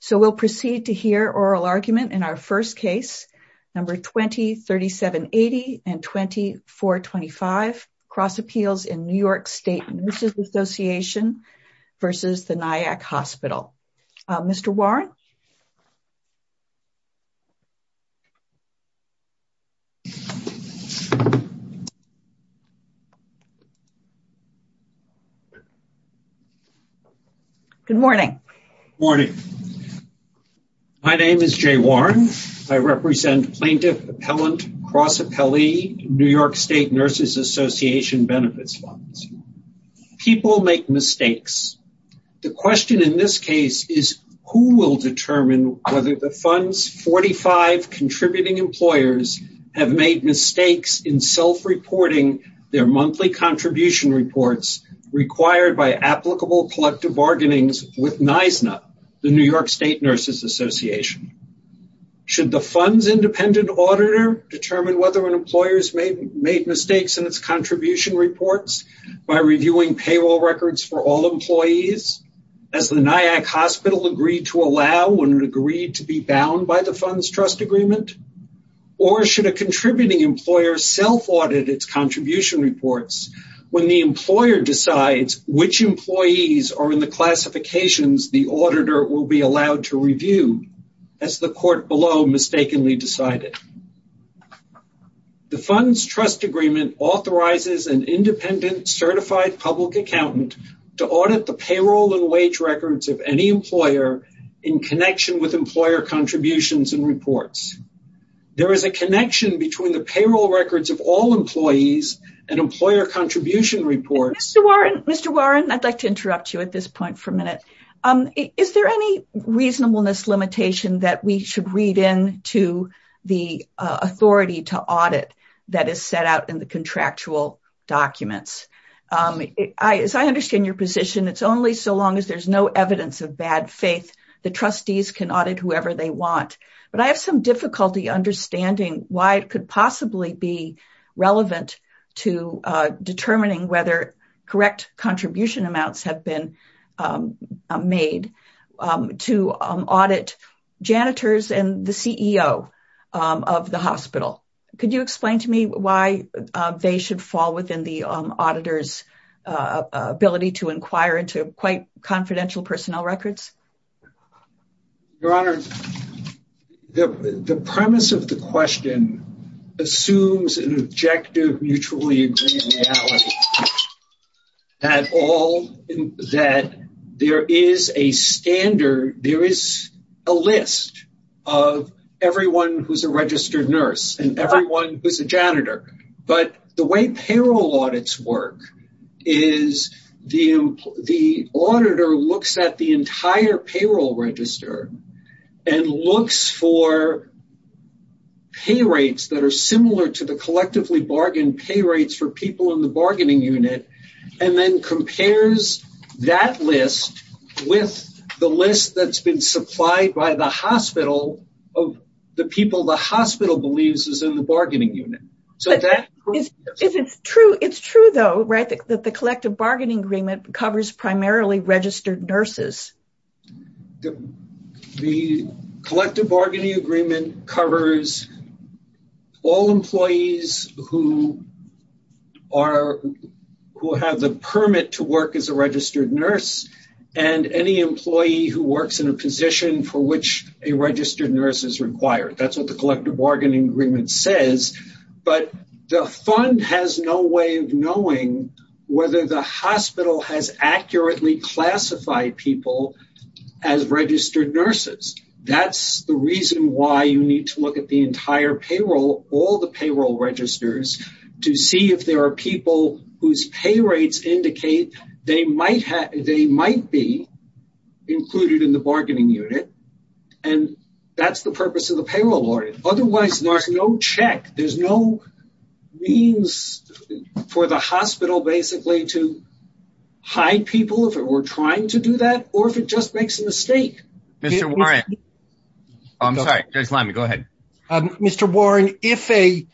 So we'll proceed to hear oral argument in our first case, number 20-3780 and 20-425, cross appeals in New York State Nurses Association v. The Nyack Hospital. Mr. Warren? Good morning. Good morning. My name is Jay Warren. I represent plaintiff, appellant, cross appellee, New York State Nurses Association benefits funds. People make mistakes. The question in this case is who will determine whether the funds 45 contributing employers have made mistakes in self-reporting their monthly contribution reports required by applicable collective bargainings with NYSNA, the New York State Nurses Association. Should the funds independent auditor determine whether an employer's made mistakes in its contribution reports by reviewing payroll records for all employees, as the Nyack Hospital agreed to allow when it agreed to be bound by the funds trust agreement? Or should a contributing employer self-audit its contribution reports when the employer decides which employees are in the classifications the auditor will be allowed to review as the court below mistakenly decided? The funds to audit the payroll and wage records of any employer in connection with employer contributions and reports. There is a connection between the payroll records of all employees and employer contribution reports. Mr. Warren, I would like to interrupt you at this point for a minute. Is there any reasonableness limitation that we should read into the authority to audit that is set out in the contractual documents? As I understand your position, it's only so long as there's no evidence of bad faith the trustees can audit whoever they want. But I have some difficulty understanding why it could possibly be relevant to determining whether correct contribution amounts have been made to audit janitors and the CEO of the hospital. Could you explain to me why they should fall within the auditor's ability to inquire into quite confidential personnel records? Your Honor, the premise of the question assumes an objective mutually agreeable reality. That all that there is a standard, there is a list of everyone who's registered nurse and everyone who's a janitor. But the way payroll audits work is the auditor looks at the entire payroll register and looks for pay rates that are similar to the collectively bargained pay rates for people in the bargaining unit and then compares that list with the list that's been supplied by the hospital of the people the hospital believes is in the bargaining unit. It's true though, right, that the collective bargaining agreement covers primarily registered nurses. The collective bargaining agreement covers all employees who have the permit to work in a position for which a registered nurse is required. That's what the collective bargaining agreement says. But the fund has no way of knowing whether the hospital has accurately classified people as registered nurses. That's the reason why you need to look at the entire payroll, all the payroll registers, to see if there are people whose pay rates indicate they might be included in the bargaining unit and that's the purpose of the payroll audit. Otherwise there's no check, there's no means for the hospital basically to hide people if it were trying to do that or if it just makes a mistake. Mr. Warren, if a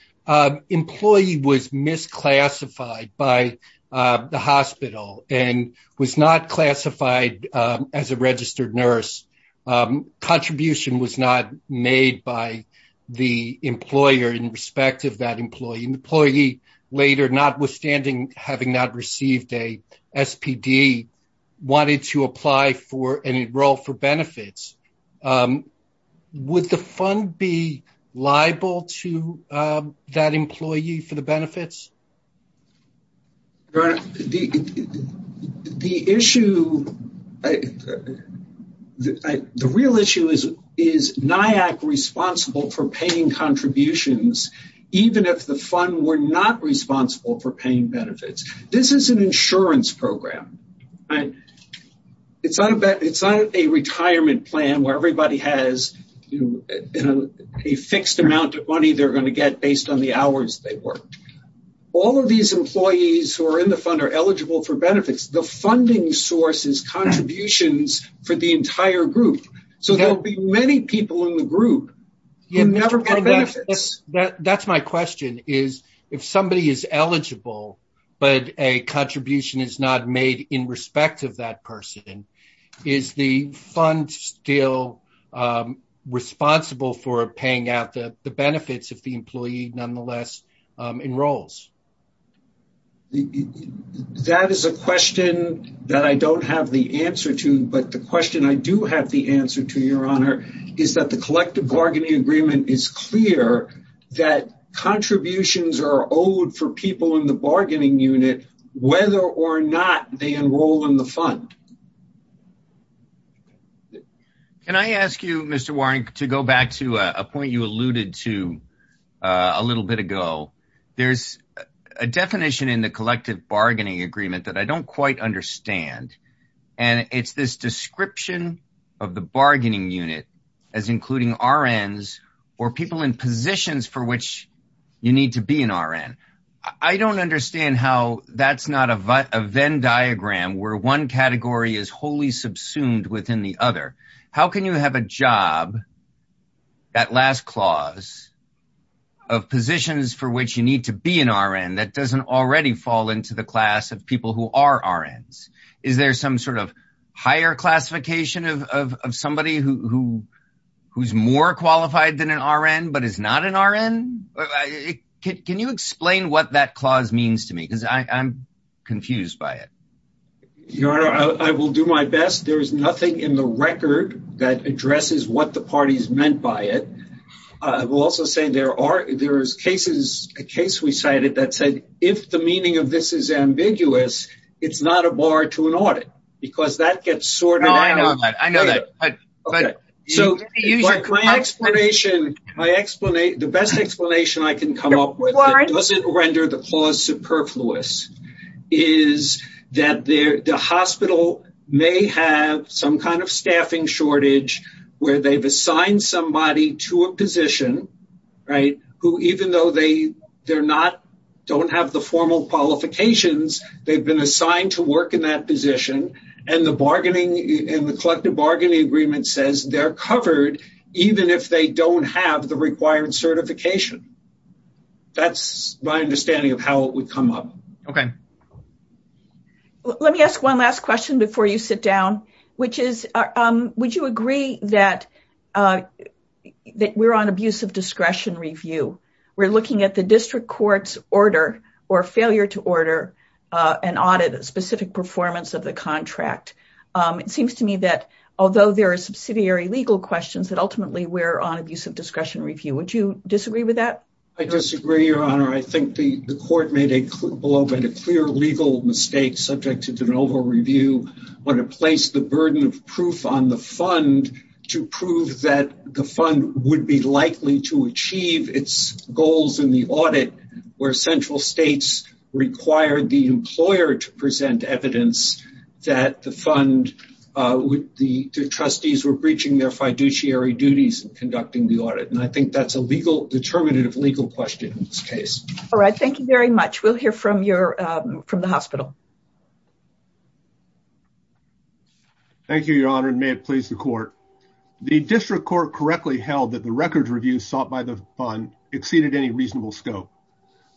employee was misclassified by the hospital and was not classified as a registered nurse, contribution was not made by the employer in respect of that employee. An employee later, notwithstanding having not received a SPD, wanted to apply for and enroll for benefits, would the fund be liable to that employee for the benefits? Your Honor, the issue, the real issue is, is NIAC responsible for paying contributions even if the fund were not responsible for paying benefits? This is an insurance program. It's not a retirement plan where everybody has a fixed amount of money they're going to get based on the hours they work. All of these employees who are in the fund are eligible for benefits. The funding source is contributions for the entire group, so there'll be many people in the group who never get benefits. That's my question, is if somebody is eligible but a contribution is not made in respect of that person, is the fund still responsible for paying out the benefits if the employee nonetheless enrolls? That is a question that I don't have the answer to, but the question I do have the answer to, Your Honor, is that the collective bargaining agreement is clear that contributions are owed for people in the bargaining unit whether or not they enroll in the fund. Can I ask you, Mr. Warren, to go back to a point you alluded to a little bit ago. There's a definition in the collective bargaining agreement that I don't quite understand, and it's this description of the bargaining unit as including RNs or people in positions for which you need to be an RN. I don't understand how that's not a Venn diagram where one category is wholly subsumed within the other. How can you have a job, that last clause, of positions for which you need to be an RN that doesn't already fall into the class of people who are RNs? Is there some sort of higher classification of somebody who's more qualified than an RN but is not an RN? Can you explain what that clause means to me because I'm confused by it. Your Honor, I will do my best. There is nothing in the record that addresses what the parties meant by it. I will also say there is a case we cited that said if the meaning of this is ambiguous, it's not a bar to an audit because that gets sorted out. I know that. Okay. My explanation, the best explanation I can come up with that doesn't render the clause superfluous is that the hospital may have some kind of staffing shortage where they've assigned somebody to a position who even though they don't have the formal qualifications, they've been assigned to work in that position and the collective bargaining agreement says they're covered even if they don't have the required certification. That's my understanding of how it would come up. Okay. Let me ask one last question before you sit down. Would you agree that we're on abuse of discretion review? We're looking at the district court's order or failure to order an audit specific performance of the contract. It seems to me that although there are subsidiary legal questions that ultimately we're on abuse of discretion review. Would you disagree with that? I disagree, Your Honor. I think the court made a clear legal mistake subject to de novo review when it placed the burden of proof on the fund to prove that the where central states required the employer to present evidence that the fund would the trustees were breaching their fiduciary duties and conducting the audit and I think that's a legal determinative legal question in this case. All right. Thank you very much. We'll hear from your from the hospital. Thank you, Your Honor and may it please the court. The district court correctly held that the records review sought by the fund exceeded any reasonable scope.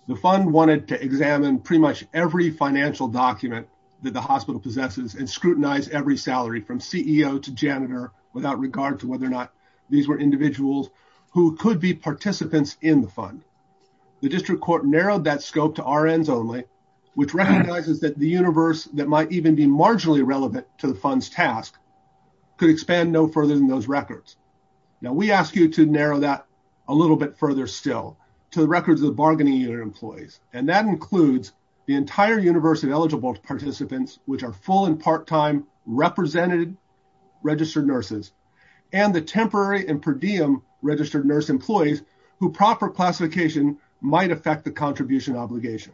The fund wanted to examine pretty much every financial document that the hospital possesses and scrutinize every salary from CEO to janitor without regard to whether or not these were individuals who could be participants in the fund. The district court narrowed that scope to our ends only which recognizes that the universe that might even be marginally relevant to the fund's task could expand no further than those records. Now we ask you to narrow that a little bit further still to the records of the bargaining unit employees and that includes the entire universe of eligible participants which are full and part-time representative registered nurses and the temporary and per diem registered nurse employees who proper classification might affect the contribution obligation.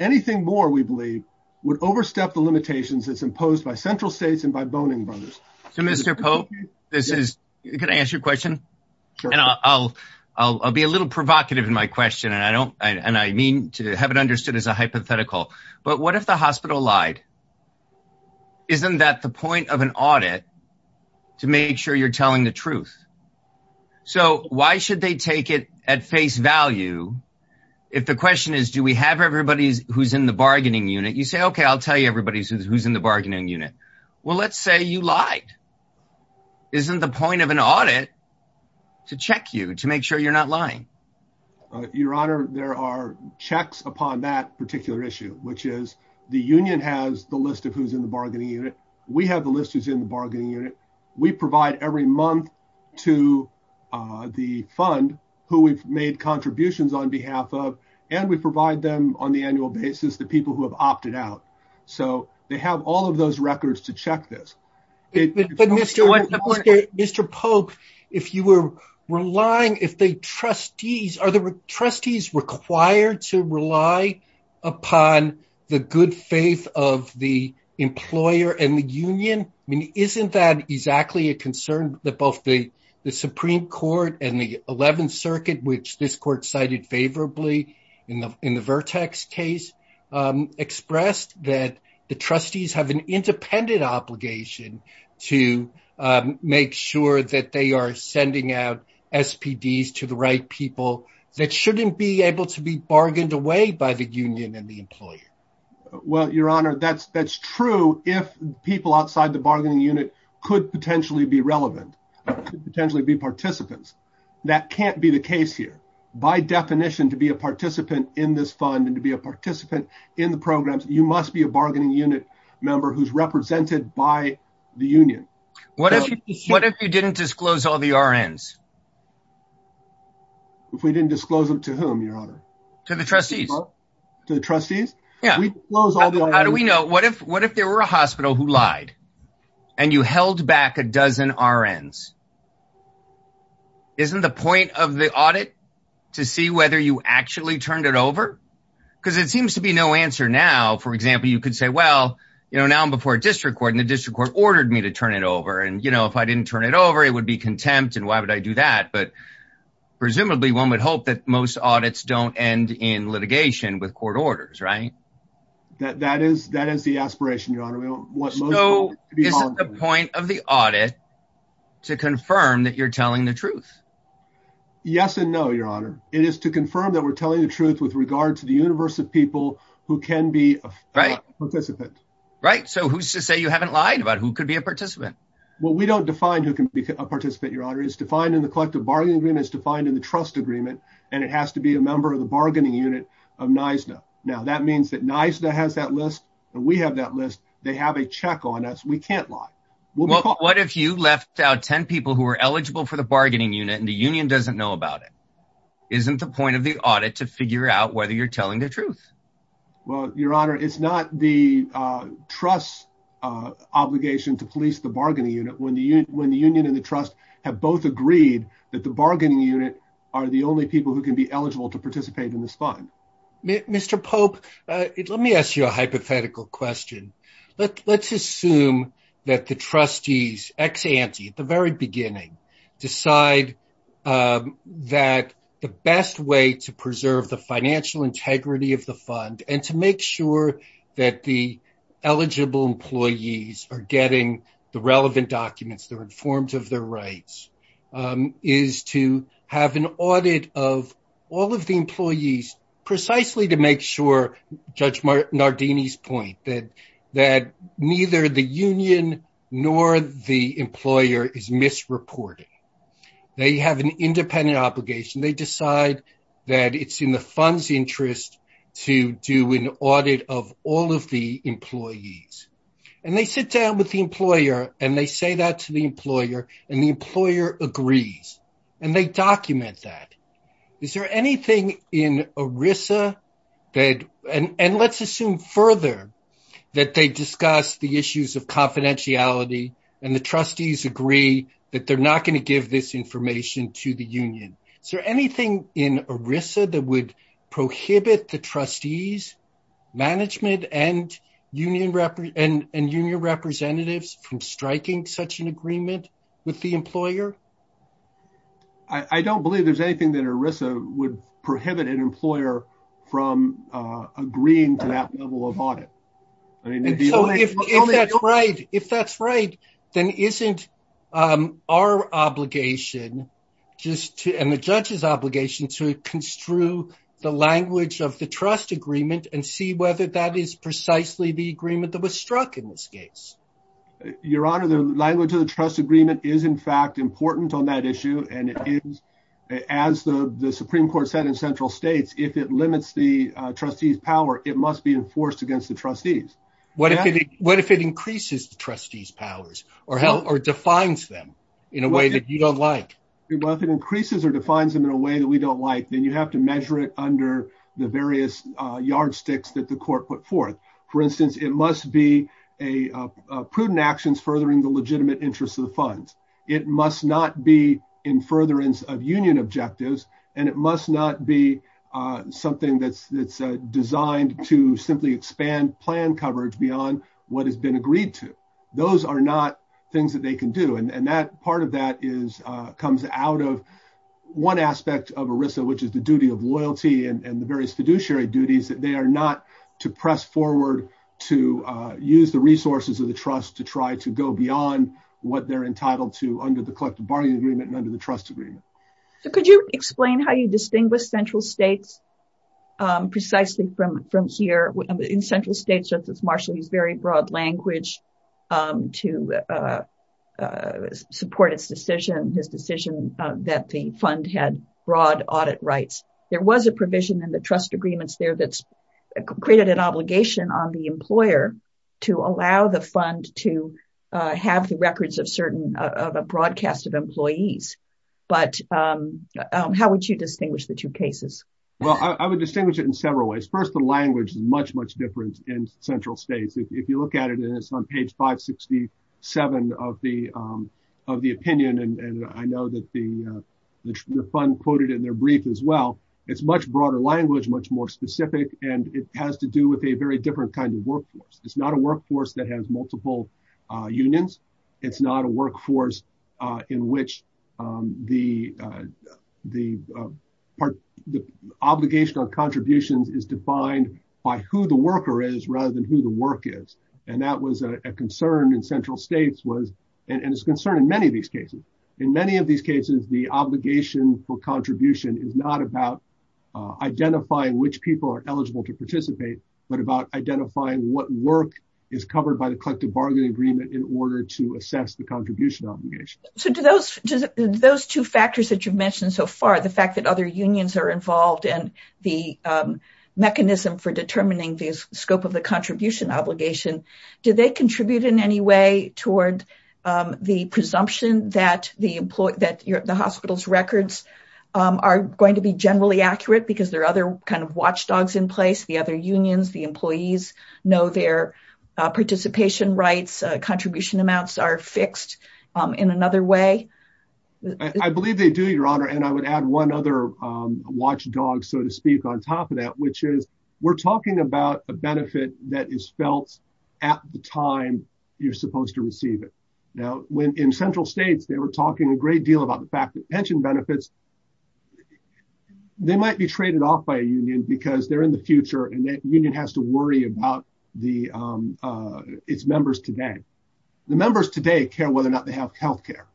Anything more we believe would overstep the limitations as imposed by central states and by this is can I answer your question and I'll be a little provocative in my question and I don't and I mean to have it understood as a hypothetical but what if the hospital lied? Isn't that the point of an audit to make sure you're telling the truth? So why should they take it at face value if the question is do we have everybody who's in the bargaining unit? You say I'll tell you everybody who's in the bargaining unit. Well let's say you lied. Isn't the point of an audit to check you to make sure you're not lying? Your honor there are checks upon that particular issue which is the union has the list of who's in the bargaining unit. We have the list who's in the bargaining unit. We provide every month to the fund who we've made contributions on behalf of and we provide them on the annual basis the who have opted out. So they have all of those records to check this. But Mr. Pope if you were relying if the trustees are the trustees required to rely upon the good faith of the employer and the union I mean isn't that exactly a concern that both the the supreme court and the 11th circuit which this court cited favorably in the in the vertex case expressed that the trustees have an independent obligation to make sure that they are sending out SPDs to the right people that shouldn't be able to be bargained away by the union and the employer. Well your honor that's that's true if people outside the bargaining unit could potentially be relevant potentially be participants that can't be the case here by definition to be a participant in this fund and to be a participant in the programs you must be a bargaining unit member who's represented by the union. What if you didn't disclose all the RNs? If we didn't disclose them to whom your honor? To the trustees. To the trustees? Yeah. How do we know what if what if there were a hospital who lied and you held back a dozen RNs? Isn't the point of the audit to see whether you actually turned it over? Because it seems to be no answer now for example you could say well you know now I'm before a district court and the district court ordered me to turn it over and you know if I didn't turn it over it would be contempt and why would I do that? But presumably one would hope that most audits don't end in litigation with court orders right? That that is that is the aspiration your is the point of the audit to confirm that you're telling the truth? Yes and no your honor it is to confirm that we're telling the truth with regard to the universe of people who can be a participant. Right so who's to say you haven't lied about who could be a participant? Well we don't define who can be a participant your honor is defined in the collective bargaining agreement is defined in the trust agreement and it has to be a member of the bargaining unit of NYSDA. Now that means that NYSDA has that list and we have that list they have a check on us we can't lie. Well what if you left out 10 people who are eligible for the bargaining unit and the union doesn't know about it? Isn't the point of the audit to figure out whether you're telling the truth? Well your honor it's not the trust obligation to police the bargaining unit when the union and the trust have both agreed that the bargaining unit are the only people who can be eligible to participate in this fund. Mr Pope let me ask you a hypothetical question. Let's assume that the trustees ex ante at the very beginning decide that the best way to preserve the financial integrity of the fund and to make sure that the eligible employees are getting the relevant documents they're informed of their rights is to have an audit of all of the employees precisely to make sure Judge Nardini's point that that neither the union nor the employer is misreporting. They have an independent obligation they decide that it's in the fund's interest to do an audit of all of the employees and they sit down with the employer and they say that to the employer and the employer agrees and they document that. Is there anything in ERISA that and let's assume further that they discuss the issues of confidentiality and the trustees agree that they're not going to give this information to the union. Is there anything in ERISA that would prohibit the trustees management and union representatives from striking such an agreement with the employer? I don't believe there's anything that ERISA would prohibit an employer from agreeing to that level of audit. If that's right then isn't our obligation just to and the judge's obligation to construe the language of the trust agreement and see whether that is precisely the agreement that was struck in this case. Your honor the language of the trust agreement is in fact important on that issue and it is as the the supreme court said in central states if it limits the trustees power it must be enforced against the trustees. What if it increases the trustees powers or defines them in a way that you don't like? Well if it increases or defines them in a way that we don't like then you have to measure it under the various yardsticks that the court put forth. For instance it must be a prudent actions furthering the legitimate interests of the funds. It must not be in furtherance of union objectives and it must not be something that's designed to simply expand plan coverage beyond what has been agreed to. Those are not things that they can do and that part of that comes out of one aspect of ERISA which is the duty of loyalty and the various fiduciary duties that they are not to press forward to use the resources of the trust to try to go beyond what they're entitled to under the collective bargaining agreement and under the trust agreement. So could you explain how you would distinguish the two cases? Well I think it's a good question. I think it's a good question because I think it's a good question because I think it's a good question because I think there was a provision in the trust agreements there that's created an obligation on the employer to allow the fund to have the records of certain of a broadcast of employees but how would you distinguish the two cases? Well I would distinguish it in several ways. First the language is much much different in central states. If you look at it and it's on page 567 of the opinion and I know that the fund quoted in their brief as well it's much broader language, much more specific and it has to do with a very different kind of workforce. It's not a workforce that has multiple unions. It's not a workforce in which the part the obligation on contributions is defined by who the worker is rather than who the work is and that was a concern in central states was and it's concerned in many of these cases. In many of these cases the obligation for contribution is not about identifying which people are eligible to participate but about identifying what work is covered by the collective bargain agreement in order to assess the contribution obligation. So do those two factors that you've mentioned so far the fact that other unions are involved and the mechanism for determining the scope of the contribution obligation, do they contribute in any way toward the presumption that the hospital's records are going to be generally accurate because there are other kind of watchdogs in place, the other unions, the employees know their participation rights, contribution amounts are fixed in another way? I believe they do your honor and I would add one other watchdog so to speak on top of that which is we're talking about a benefit that is felt at the time you're supposed to receive it. Now when in central states they were talking a great deal about the fact that pension benefits, they might be traded off by a union because they're in the future and that union has to worry about its members today. The members today care whether or not they have health care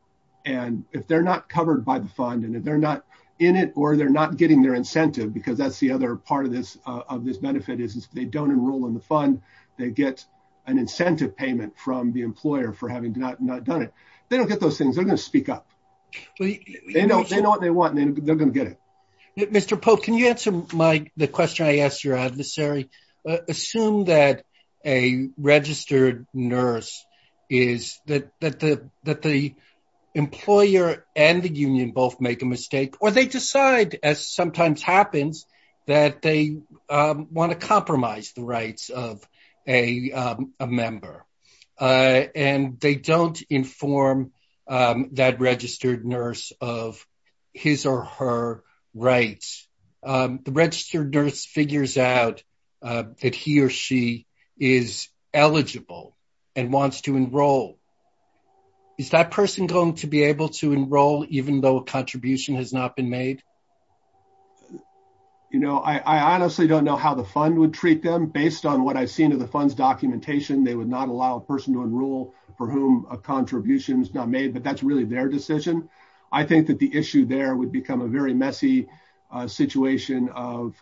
and if they're not covered by the fund and if they're not in it or they're not getting their incentive because that's the other part of this benefit is if they don't enroll in the fund they get an incentive payment from the employer for having not done it. They don't get those things, they're going to speak up. They know what they want and they're going to get it. Mr. Pope, can you answer the question I asked your adversary? Assume that a registered nurse is that the employer and the union both make a mistake or they decide as sometimes happens that they want to compromise the rights of a member and they don't inform that registered nurse of his or her rights. The registered nurse figures out that he or she is eligible and wants to enroll. Is that person going to be able to enroll even though a contribution has not been made? I honestly don't know how the fund would treat them based on what I've seen of the fund's documentation. They would not allow a person to enroll for whom a contribution is not made but that's really their decision. I think that the issue there would become a very messy situation of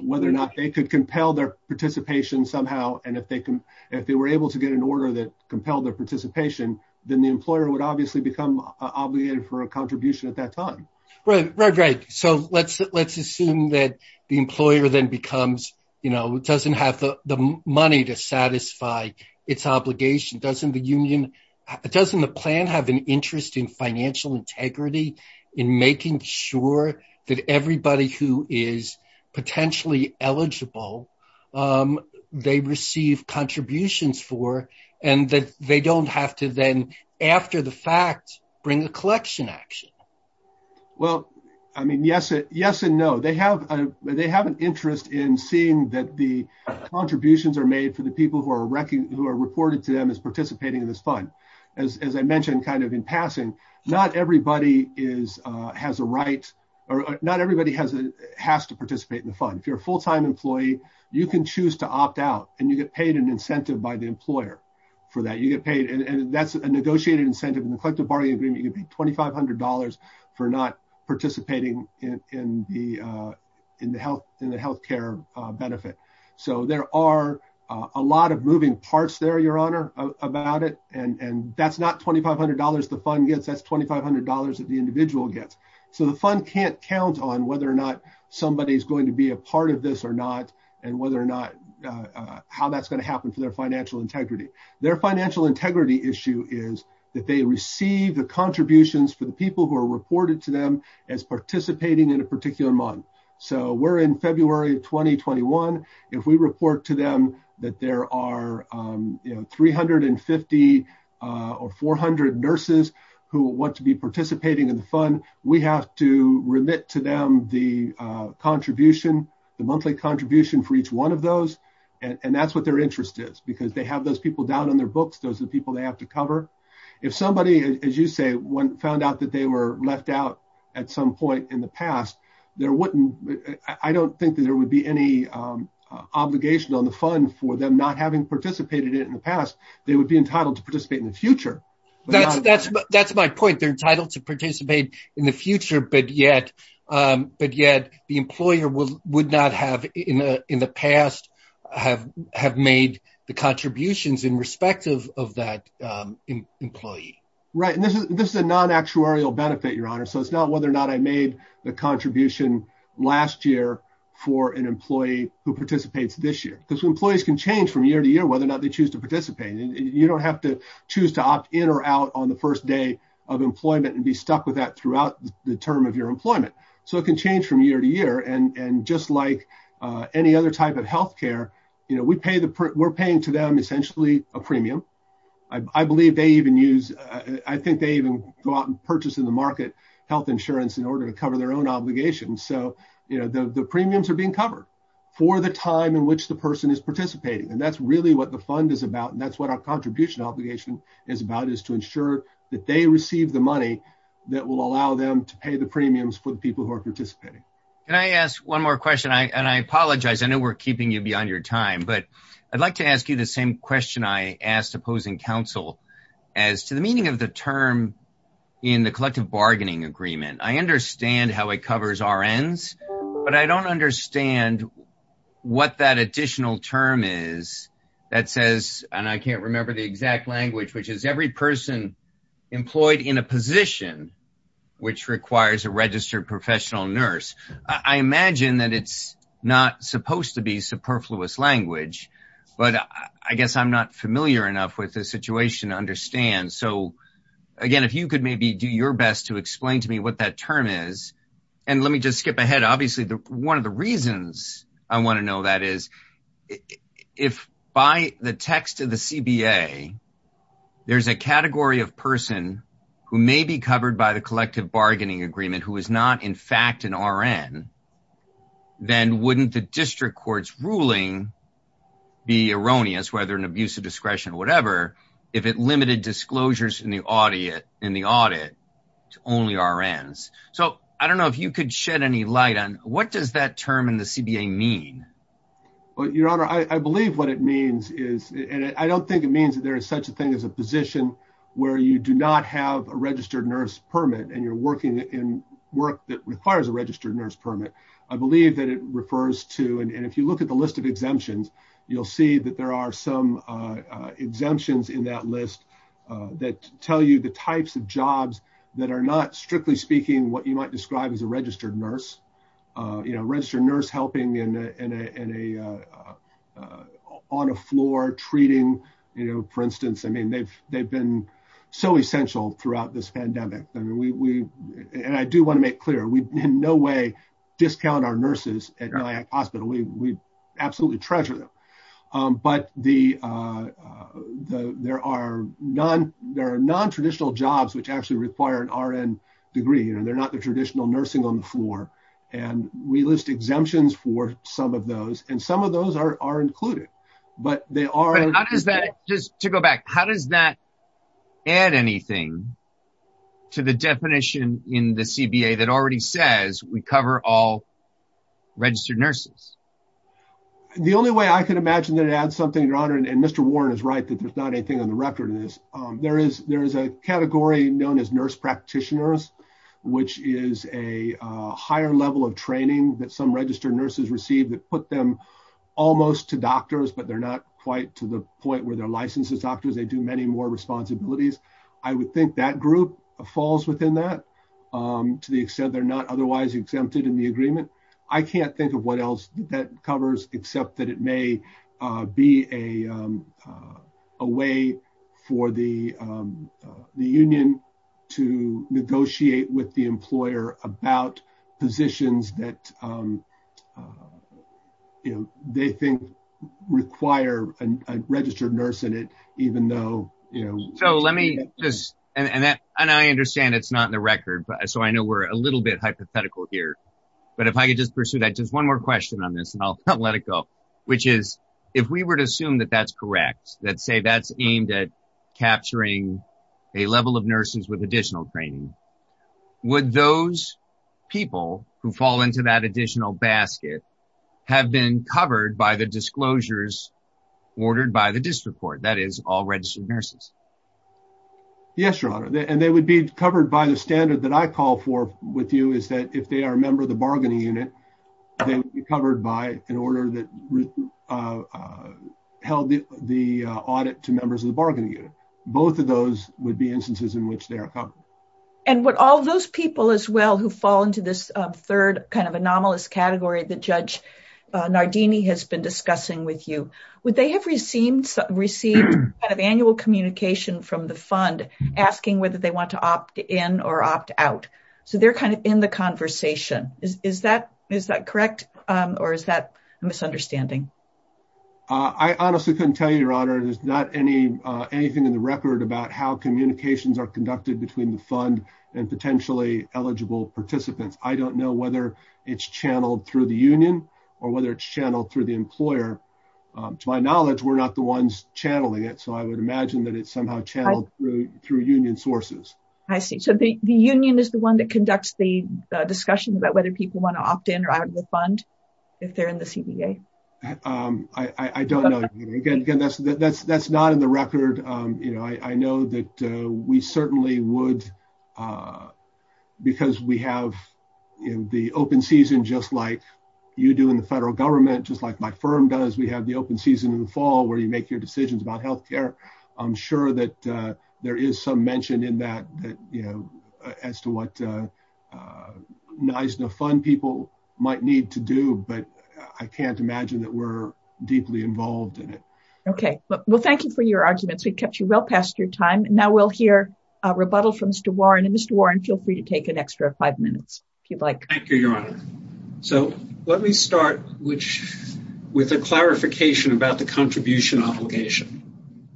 whether or not they could compel their participation somehow and if they were able to get an order that compelled their participation then the employer would obviously become obligated for a contribution at that time. Right, right, right. So let's assume that the employer then becomes, you know, doesn't have the money to satisfy its obligation. Doesn't the union, doesn't the plan have an interest in financial integrity in making sure that everybody who is potentially eligible they receive contributions for and that they don't have to after the fact bring a collection action? Well, I mean yes and no. They have an interest in seeing that the contributions are made for the people who are reported to them as participating in this fund. As I mentioned kind of in passing, not everybody has a right or not everybody has to participate in the fund. If you're a full-time employee you can choose to opt out and you get paid an incentive by the employer for that. You get paid and that's a negotiated incentive in the collective bargaining agreement you'd be $2,500 for not participating in the health, in the health care benefit. So there are a lot of moving parts there, your honor, about it and that's not $2,500 the fund gets. That's $2,500 that the individual gets. So the fund can't count on whether or not somebody's going to be a part of this or not and whether or not how that's going to happen for their financial integrity. Their financial integrity issue is that they receive the contributions for the people who are reported to them as participating in a particular month. So we're in February of 2021. If we report to them that there are you know 350 or 400 nurses who want to be participating in the fund, we have to remit to the contribution, the monthly contribution for each one of those and that's what their interest is because they have those people down on their books, those are the people they have to cover. If somebody, as you say, one found out that they were left out at some point in the past, there wouldn't, I don't think that there would be any obligation on the fund for them not having participated in the past, they would be entitled to participate in the future. That's my point, they're entitled to participate in the future but yet the employer would not have in the past have made the contributions in respect of that employee. Right, and this is a non-actuarial benefit, your honor, so it's not whether or not I made the contribution last year for an employee who participates this year because employees can change from year to year whether or not they have employment and be stuck with that throughout the term of your employment. So it can change from year to year and just like any other type of health care, you know, we pay the, we're paying to them essentially a premium. I believe they even use, I think they even go out and purchase in the market health insurance in order to cover their own obligations so you know the premiums are being covered for the time in which the person is participating and that's really what the fund is about and that's what our contribution obligation is about is to ensure that they receive the money that will allow them to pay the premiums for the people who are participating. Can I ask one more question, and I apologize, I know we're keeping you beyond your time but I'd like to ask you the same question I asked opposing counsel as to the meaning of the term in the collective bargaining agreement. I understand how it covers RNs but I don't understand what that additional term is that says, and I can't remember the exact language, which is every person employed in a position which requires a registered professional nurse. I imagine that it's not supposed to be superfluous language but I guess I'm not familiar enough with the situation to understand. So again, if you could maybe do your best to explain to me what that term is and let me just skip ahead. Obviously, one of the reasons I want to know that is if by the text of the CBA there's a category of person who may be covered by the collective bargaining agreement who is not in fact an RN, then wouldn't the district court's ruling be erroneous, whether an abuse of discretion or whatever, if it limited disclosures in the audit to only RNs? So I don't know if you could shed any light on what does that term in the CBA mean? Your honor, I believe what it means is, and I don't think it means that there is such a thing as a position where you do not have a registered nurse permit and you're working in work that requires a registered nurse permit. I believe that it refers to, and if you look at the list of exemptions, you'll see that there are some exemptions in that list that tell you the types of jobs that are not, strictly speaking, what you might describe as a registered nurse. You know, in a, on a floor treating, you know, for instance, I mean, they've been so essential throughout this pandemic. I mean, we, and I do want to make clear, we in no way discount our nurses at Nyack Hospital. We absolutely treasure them. But there are non-traditional jobs which actually require an RN degree. You know, they're not the traditional nursing on the floor. And we list exemptions for some of those, and some of those are included, but they are- But how does that, just to go back, how does that add anything to the definition in the CBA that already says we cover all registered nurses? The only way I could imagine that it adds something, your honor, and Mr. Warren is right that there's not anything on the record in this. There is, there is a category known as nurse of training that some registered nurses receive that put them almost to doctors, but they're not quite to the point where they're licensed as doctors. They do many more responsibilities. I would think that group falls within that to the extent they're not otherwise exempted in the agreement. I can't think of what else that covers except that it may be a way for the physicians that, you know, they think require a registered nurse in it, even though, you know- So let me just, and I understand it's not in the record, so I know we're a little bit hypothetical here, but if I could just pursue that, just one more question on this and I'll let it go, which is, if we were to assume that that's correct, that say that's aimed at fall into that additional basket, have been covered by the disclosures ordered by the district court, that is all registered nurses? Yes, your honor, and they would be covered by the standard that I call for with you is that if they are a member of the bargaining unit, they would be covered by an order that held the audit to members of the bargaining unit. Both of those would be instances in which they are covered. And would all those people as well who fall into this third kind of anomalous category that Judge Nardini has been discussing with you, would they have received received kind of annual communication from the fund asking whether they want to opt in or opt out? So they're kind of in the conversation. Is that correct or is that a misunderstanding? I honestly couldn't tell you, your honor, there's not anything in the record about how communications are conducted between the fund and potentially eligible participants. I don't know whether it's channeled through the union or whether it's channeled through the employer. To my knowledge, we're not the ones channeling it. So I would imagine that it's somehow channeled through union sources. I see. So the union is the one that conducts the discussion about whether people want to opt in or out of the fund if they're in the CDA? I don't know. Again, that's not in the record. You know, I know that we certainly would because we have the open season, just like you do in the federal government, just like my firm does. We have the open season in the fall where you make your decisions about health care. I'm sure that there is some mention in that that, you know, as to what NISDA fund people might need to do. But I can't imagine that we're your arguments. We've kept you well past your time. Now we'll hear a rebuttal from Mr. Warren. And Mr. Warren, feel free to take an extra five minutes if you'd like. Thank you, your honor. So let me start with a clarification about the contribution obligation.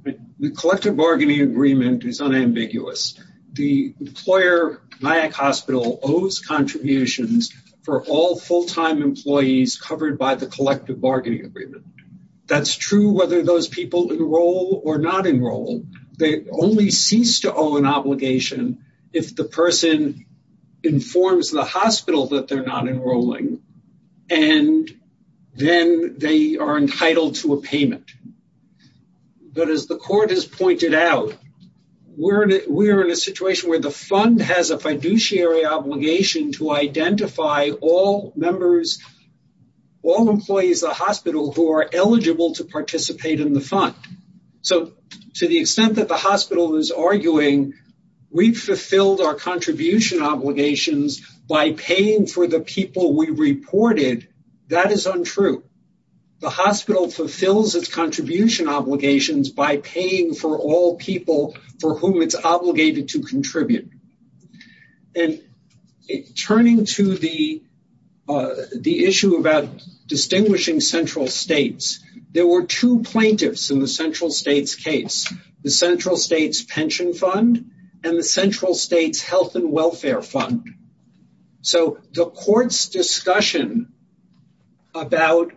The collective bargaining agreement is unambiguous. The employer, Nyack Hospital, owes contributions for all full-time employees covered by the collective bargaining agreement. That's true whether those people enroll or not enroll. They only cease to owe an obligation if the person informs the hospital that they're not enrolling and then they are entitled to a payment. But as the court has pointed out, we're in a situation where the fund has a fiduciary obligation to identify all members, all employees of the hospital who are eligible to participate in the fund. So to the extent that the hospital is arguing we've fulfilled our contribution obligations by paying for the people we reported, that is untrue. The hospital fulfills its contribution obligations by paying for all people for whom it's obligated to contribute. And turning to the issue about distinguishing central states, there were two plaintiffs in the central states case, the Central States Pension Fund and the Central States Health and Welfare Fund. So the court's discussion about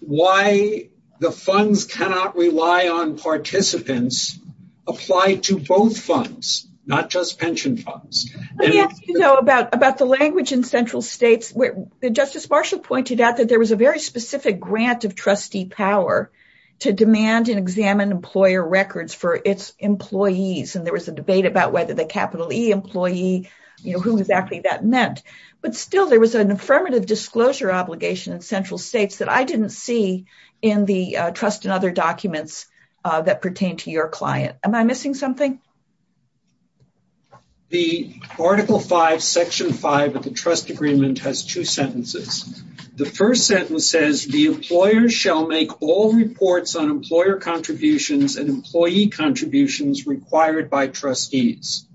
why the funds cannot rely on participants applied to both funds, not just pension funds. Let me ask you about the language in central states where Justice Marshall pointed out that there was a very specific grant of trustee power to demand and examine employer records for its employees. And there was a debate about whether the capital E employee, you know, who exactly that meant. But still there was an affirmative disclosure obligation in central states that I didn't see in the trust and other documents that pertain to your client. Am I missing something? The article five, section five of the trust agreement has two sentences. The first sentence says the employer shall make all reports on employer contributions and employee contributions required by trustees.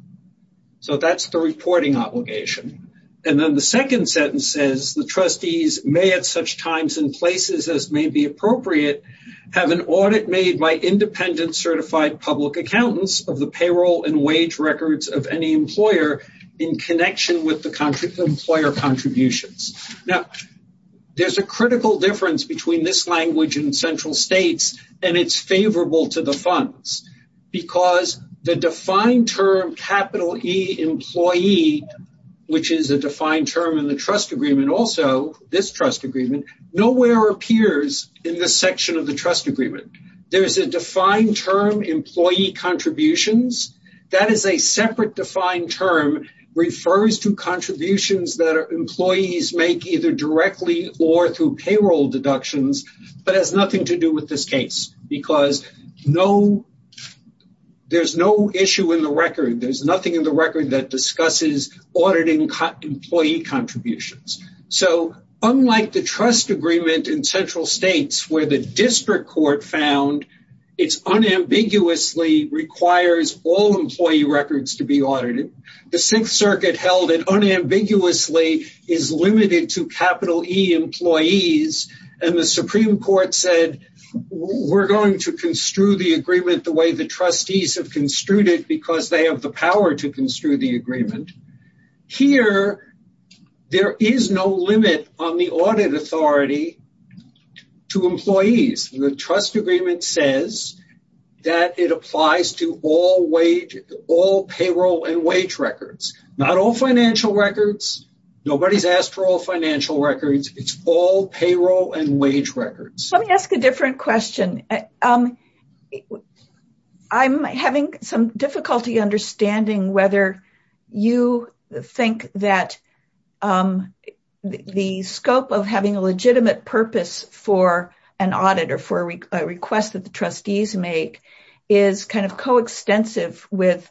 So that's the reporting obligation. And then the second sentence says the trustees may at such times and places as may be appropriate, have an audit made by independent certified public accountants of the payroll and wage records of any employer in connection with the employer contributions. Now there's a critical difference between this language in central states and it's favorable to the funds because the defined term capital E this trust agreement nowhere appears in the section of the trust agreement. There's a defined term employee contributions. That is a separate defined term refers to contributions that employees make either directly or through payroll deductions but has nothing to do with this case. Because there's no issue in the record. There's nothing in the record that discusses employee contributions. So unlike the trust agreement in central states where the district court found it's unambiguously requires all employee records to be audited. The sixth circuit held it unambiguously is limited to capital E employees and the Supreme Court said we're going to construe the agreement the way the trustees have construed it because they have the here there is no limit on the audit authority to employees. The trust agreement says that it applies to all wage all payroll and wage records. Not all financial records. Nobody's asked for all financial records. It's all payroll and wage records. Let me ask a different question. I'm having some difficulty understanding whether you think that the scope of having a legitimate purpose for an audit or for a request that the trustees make is kind of coextensive with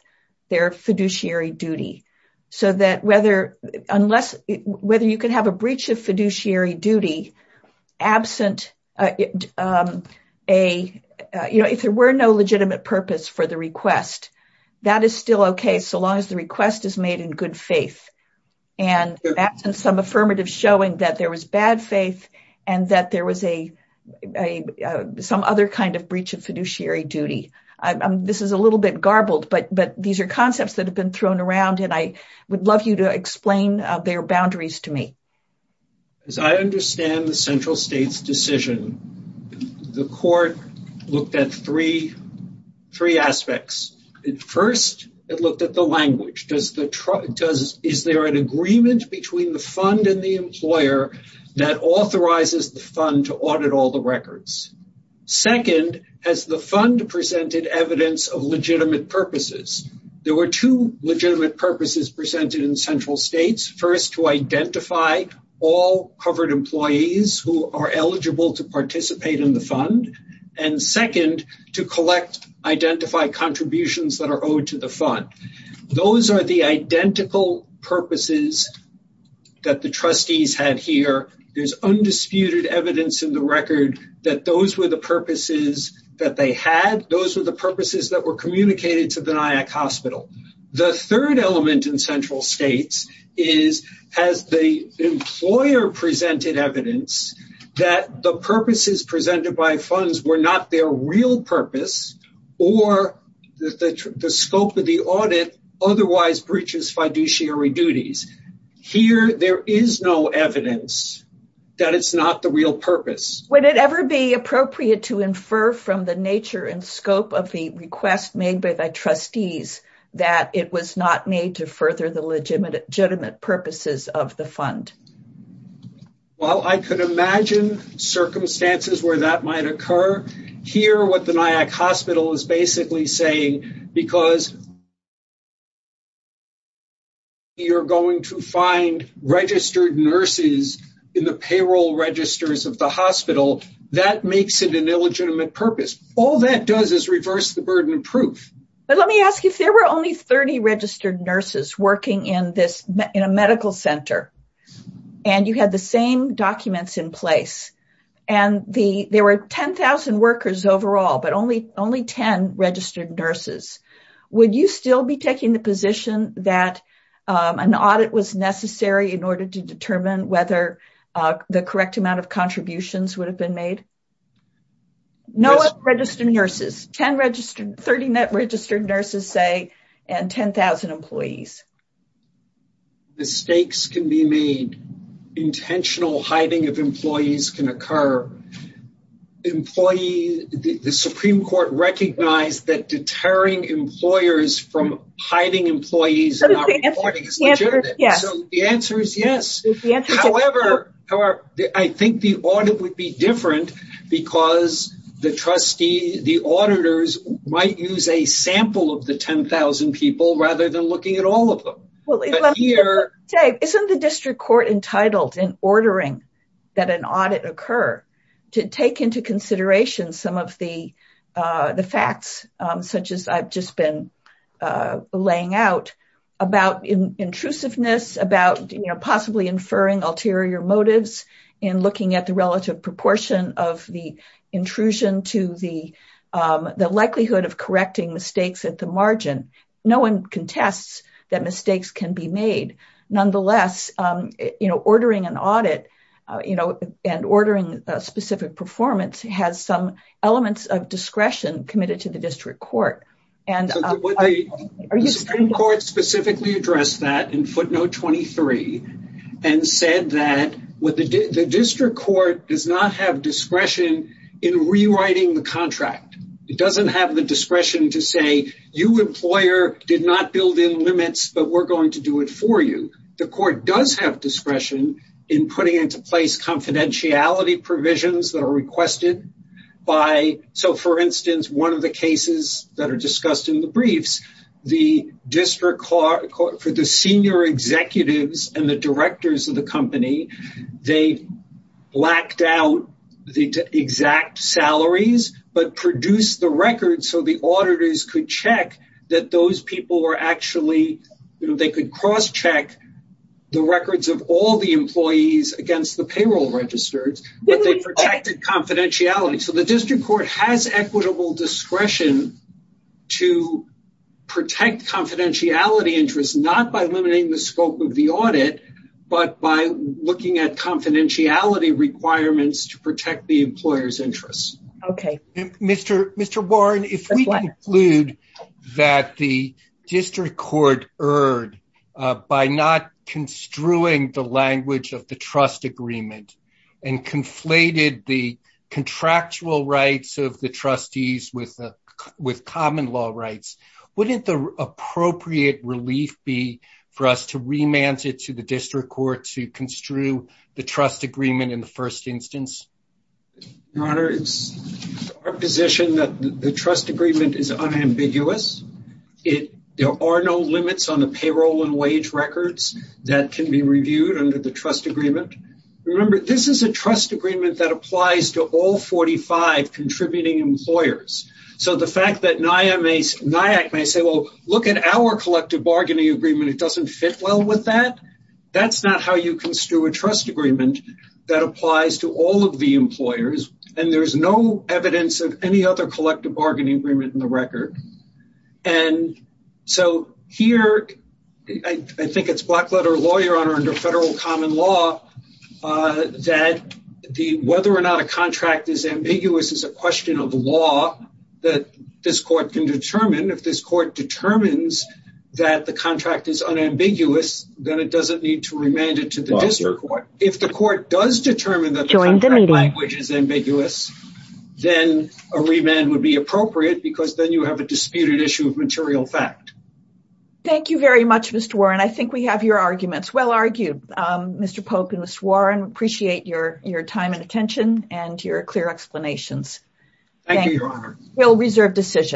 their fiduciary duty. So that whether unless whether you can have a breach of fiduciary duty absent a you know if there were no legitimate purpose for the request that is still okay so long as the request is made in good faith and absent some affirmative showing that there was bad faith and that there was a some other kind of breach of fiduciary duty. I'm this is a little bit garbled but but these are concepts that have been thrown around and I would love you to explain their boundaries to me. As I understand the central state's decision the court looked at three three aspects. First it looked at the language. Does the truck does is there an agreement between the fund and the employer that authorizes the fund to audit all the records? Second has the fund presented evidence of legitimate purposes? There were two legitimate purposes presented in central states. First to identify all covered employees who are eligible to participate in the fund and second to collect identify contributions that are owed to the fund. Those are the identical purposes that the trustees had here. There's undisputed evidence in the record that those were the purposes that they had. Those were the purposes that were communicated to the NIAC hospital. The third element in central states is has the employer presented evidence that the purposes presented by funds were not their real purpose or that the scope of the audit otherwise breaches fiduciary duties. Here there is no evidence that it's not the real purpose. Would it ever be that it was not made to further the legitimate purposes of the fund? Well I could imagine circumstances where that might occur. Here what the NIAC hospital is basically saying because you're going to find registered nurses in the payroll registers of the hospital that makes it an illegitimate purpose. All that does is reverse the burden of proof. But let me ask if there were only 30 registered nurses working in a medical center and you had the same documents in place and there were 10,000 workers overall but only 10 registered nurses, would you still be taking the position that an audit was necessary in order to determine whether the correct amount of contributions would have been made? No registered nurses. 10 registered, 30 registered nurses say and 10,000 employees. Mistakes can be made. Intentional hiding of employees can occur. Employees, the Supreme Court recognized that deterring employers from hiding employees and not reporting is legitimate. So the answer is yes. However, I think the audit would be different because the trustee, the auditors might use a sample of the 10,000 people rather than looking at all of them. Isn't the district court entitled in ordering that an audit occur to take into consideration some of the facts such as I've just been laying out about intrusiveness, about possibly inferring ulterior motives in looking at the relative proportion of the intrusion to the likelihood of correcting mistakes at the margin. No one contests that mistakes can be made. Nonetheless, ordering an audit and ordering a specific performance has some elements of discretion committed to the district court. The Supreme Court specifically addressed that in footnote 23 and said that the district court does not have discretion in rewriting the contract. It doesn't have the discretion to say you employer did not build in limits, but we're going to do it for you. The court does have discretion in putting into place confidentiality provisions that are requested by, so for instance, one of the cases that are discussed in the briefs, the district court for the senior executives and the directors of the company, they blacked out the exact salaries, but produced the records so the auditors could check that those people were actually, they could cross check the records of all the employees against the payroll registers, but they protected confidentiality. So the district court has equitable discretion to protect confidentiality interests, not by limiting the scope of the audit, but by looking at confidentiality requirements to protect the employer's interests. Okay. Mr. Warren, if we conclude that the district court erred by not construing the language of the trust agreement and conflated the contractual rights of the trustees with common law rights, wouldn't the appropriate relief be for us to remand it to the district court to construe the trust agreement in the first instance? Your honor, it's our position that the can be reviewed under the trust agreement. Remember, this is a trust agreement that applies to all 45 contributing employers. So the fact that NIAC may say, well, look at our collective bargaining agreement, it doesn't fit well with that, that's not how you construe a trust agreement that applies to all of the employers, and there's no evidence of any other collective bargaining agreement in the record. And so here, I think it's blackletter lawyer under federal common law that whether or not a contract is ambiguous is a question of law that this court can determine. If this court determines that the contract is unambiguous, then it doesn't need to remand it to the district court. If the court does determine that the contract language is ambiguous, then a remand would be appropriate because then you have a disputed issue of material fact. Thank you very much, Mr. Warren. I think we have your arguments well argued. Mr. Polk and Mr. Warren, appreciate your time and attention and your clear explanations. Thank you, your honor. We'll reserve decisions.